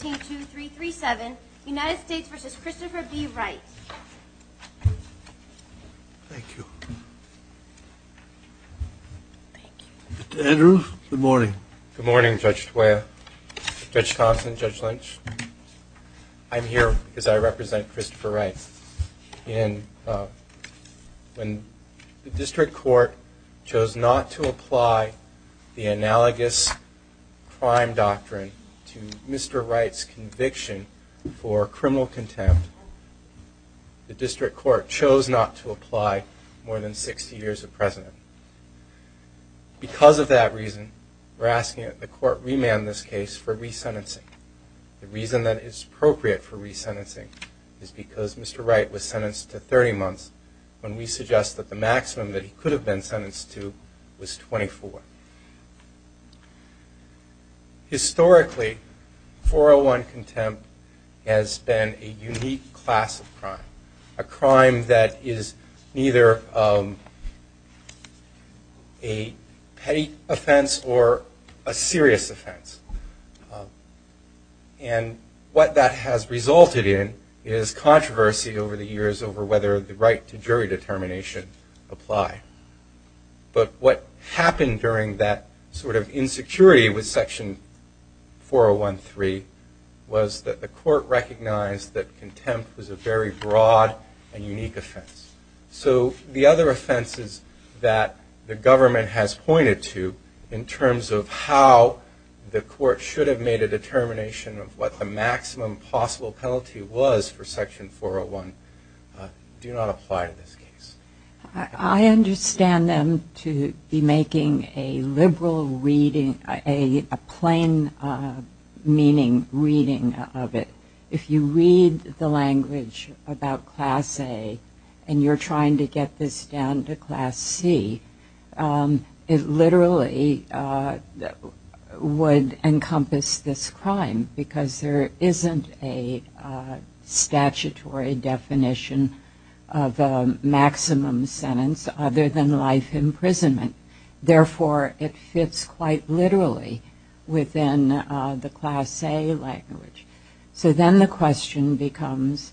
Mr. Andrews, good morning. Good morning Judge Tawiyah, Judge Thompson, Judge Lynch. I'm here because I represent Christopher Wright. When the district court chose not to apply the Wright's conviction for criminal contempt, the district court chose not to apply more than 60 years of precedent. Because of that reason, we're asking that the court remand this case for resentencing. The reason that it's appropriate for resentencing is because Mr. Wright was sentenced to 30 months when we suggest that the maximum that he could has been a unique class of crime, a crime that is neither a petty offense or a serious offense. And what that has resulted in is controversy over the years over whether the right to jury determination apply. But what happened during that sort of insecurity with the court recognized that contempt was a very broad and unique offense. So the other offenses that the government has pointed to in terms of how the court should have made a determination of what the maximum possible penalty was for section 401 do not apply to this case. I understand them to be making a liberal reading, a plain meaning reading of it. If you read the language about class A and you're trying to get this down to class C, it literally would encompass this crime because there isn't a statutory definition of a maximum sentence other than life imprisonment. Therefore, it fits quite literally within the class A language. So then the question becomes,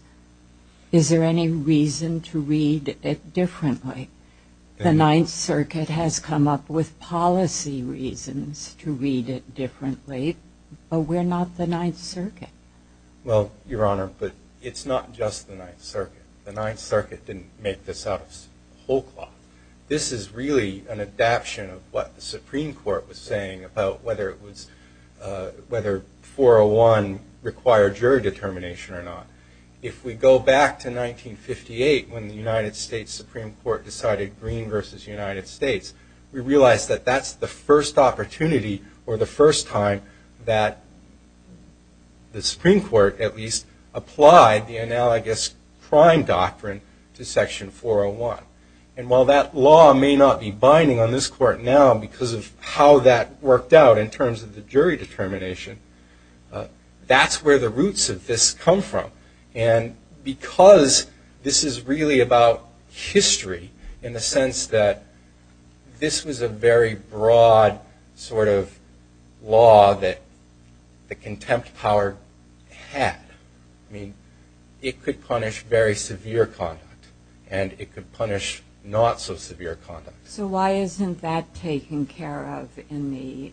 is there any reason to read it differently? The Ninth Circuit has come up with policy reasons to read it differently, but we're not the Ninth Circuit. Well, Your Honor, but it's not just the Ninth Circuit. The Ninth Circuit didn't make this out of whole cloth. This is really an adaption of what the Supreme Court was saying about whether it was, whether 401 required jury determination or not. If we go back to 1958 when the United States, we realize that that's the first opportunity or the first time that the Supreme Court at least applied the analogous crime doctrine to section 401. And while that law may not be binding on this court now because of how that worked out in terms of the jury determination, that's where the roots of this come from. And because this is really about history in the sense that this was a very broad sort of law that the contempt power had. I mean, it could punish very severe conduct and it could punish not so severe conduct. So why isn't that taken care of in the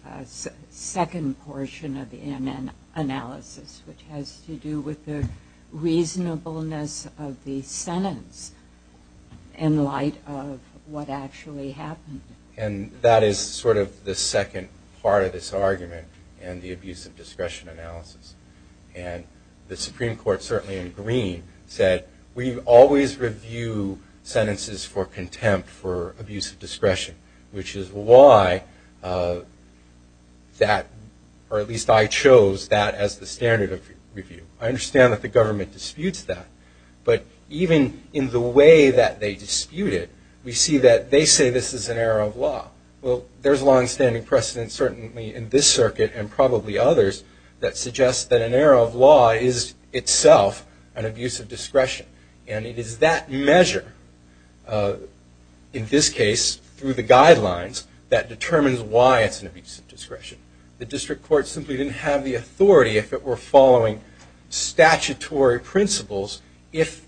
second portion of the NN analysis, which has to do with the reasonableness of the sentence in light of what actually happened. And that is sort of the second part of this argument and the abuse of discretion analysis. And the Supreme Court certainly in Green said, we always review sentences for contempt for abuse of discretion, which is why that, or at least I chose that as the standard of I understand that the government disputes that. But even in the way that they dispute it, we see that they say this is an error of law. Well, there's longstanding precedent certainly in this circuit and probably others that suggests that an error of law is itself an abuse of discretion. And it is that measure in this case through the guidelines that determines why it's an abuse of discretion. The district court simply didn't have the authority if it were following statutory principles if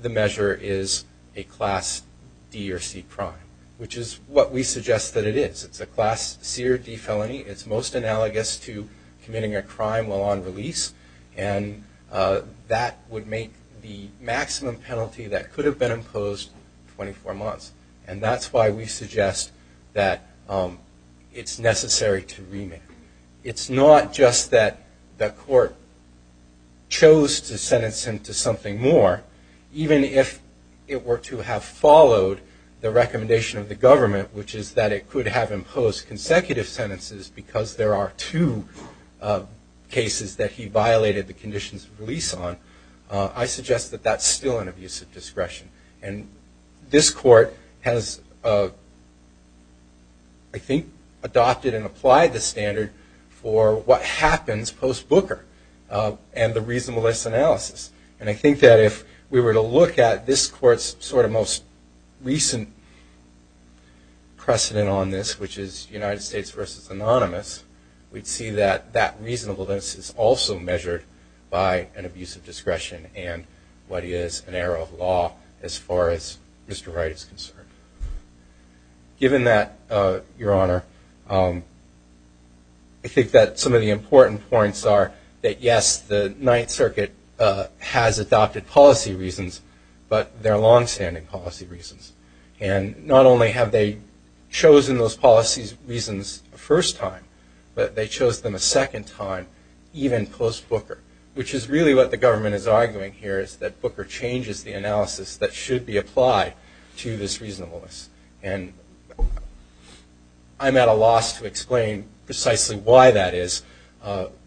the measure is a class D or C crime, which is what we suggest that it is. It's a class C or D felony. It's most analogous to committing a crime while on release. And that would make the maximum penalty that could have been imposed 24 months. And that's why we suggest that it's necessary to remand. It's not just that the court chose to sentence him to something more, even if it were to have followed the recommendation of the government, which is that it could have imposed consecutive sentences because there are two cases that he violated the conditions of release on. I suggest that that's still an abuse of discretion. And this court has, I think, adopted and applied the standard for what happens post-Booker and the reasonableness analysis. And I think that if we were to look at this court's sort of most recent precedent on this, which is United States versus Anonymous, we'd see that that reasonableness is also measured by an abuse of discretion and what is an error of as far as Mr. Wright is concerned. Given that, Your Honor, I think that some of the important points are that, yes, the Ninth Circuit has adopted policy reasons, but they're longstanding policy reasons. And not only have they chosen those policy reasons the first time, but they chose them a second time, even post-Booker, which is really what the government is applying to the analysis that should be applied to this reasonableness. And I'm at a loss to explain precisely why that is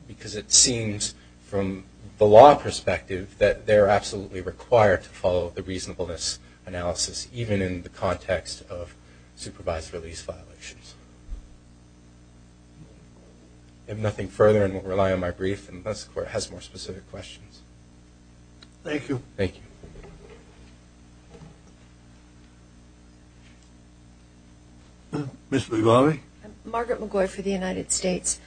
because it seems, from the law perspective, that they're absolutely required to follow the reasonableness analysis, even in the context of supervised release violations. I have nothing further and will rely on my brief. And thus, the court has more specific questions. Thank you. Thank you. Ms. McGrawley? Margaret McGrawley for the United States.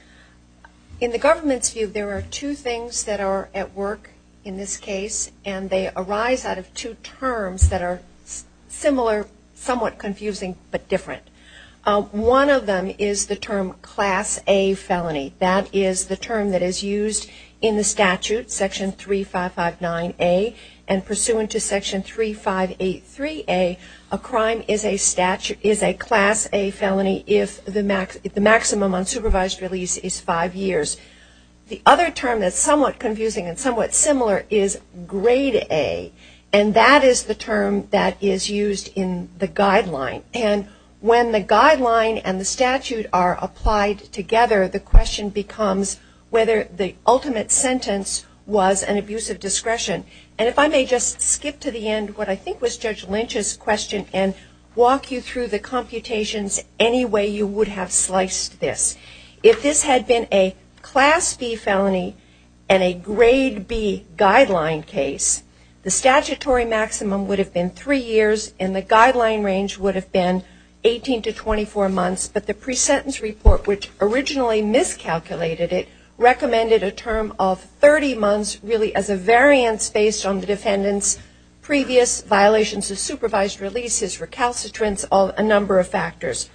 In the government's view, there are two things that are at work in this case, and they arise out of two terms that are similar, somewhat confusing, but different. One of them is the term Class A felony. That is the Section 3559A. And pursuant to Section 3583A, a crime is a Class A felony if the maximum on supervised release is five years. The other term that's somewhat confusing and somewhat similar is Grade A. And that is the term that is used in the guideline. And when the discretion. And if I may just skip to the end what I think was Judge Lynch's question and walk you through the computations any way you would have sliced this. If this had been a Class B felony and a Grade B guideline case, the statutory maximum would have been three years and the guideline range would have been 18 to 24 months. But the pre-sentence report, which originally miscalculated it, has a variance based on the defendant's previous violations of supervised releases, recalcitrance, a number of factors.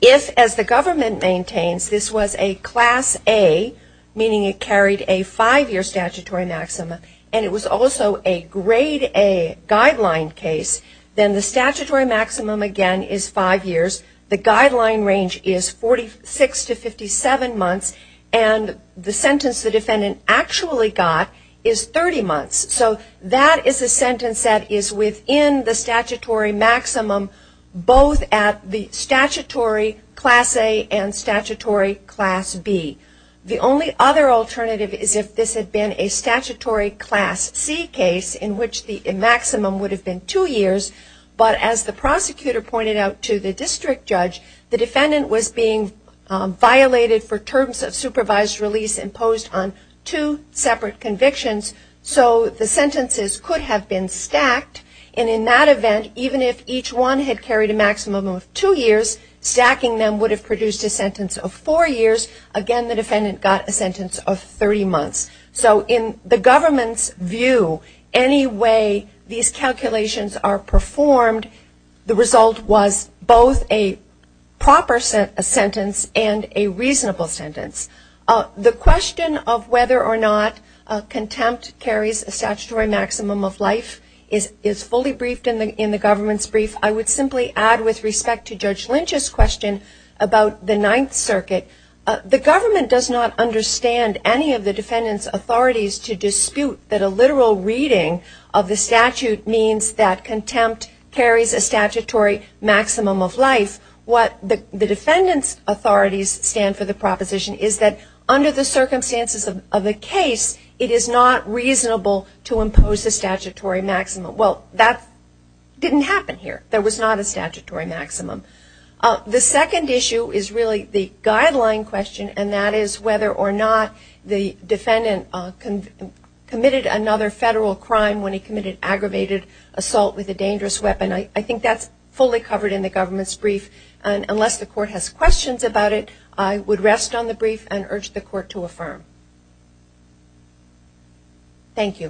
If, as the government maintains, this was a Class A, meaning it carried a five-year statutory maximum, and it was also a Grade A guideline case, then the statutory maximum, again, is five years. The guideline range is 46 to 57 months. And the sentence the defendant actually got is 30 months. So that is a sentence that is within the statutory maximum, both at the statutory Class A and statutory Class B. The only other But as the prosecutor pointed out to the district judge, the defendant was being violated for terms of supervised release imposed on two separate convictions. So the sentences could have been stacked. And in that event, even if each one had carried a maximum of two years, stacking them would have produced a sentence of four years. Again, the defendant got a sentence of 30 months. So in the government's view, any way these The result was both a proper sentence and a reasonable sentence. The question of whether or not contempt carries a statutory maximum of life is fully briefed in the government's brief. I would simply add, with respect to Judge Lynch's question about the Ninth Circuit, the government does not understand any of the defendant's authorities to dispute that a literal reading of the statute means that contempt carries a statutory maximum of life. What the defendant's authorities stand for the proposition is that under the circumstances of the case, it is not reasonable to impose a statutory maximum. Well, that didn't happen here. There was not a statutory maximum. The second issue is really the guideline question, and that is whether or not the defendant committed another federal crime when he committed aggravated assault with a dangerous weapon. I think that's fully covered in the government's brief. And unless the court has questions about it, I would rest on the brief and urge the court to affirm. Thank you.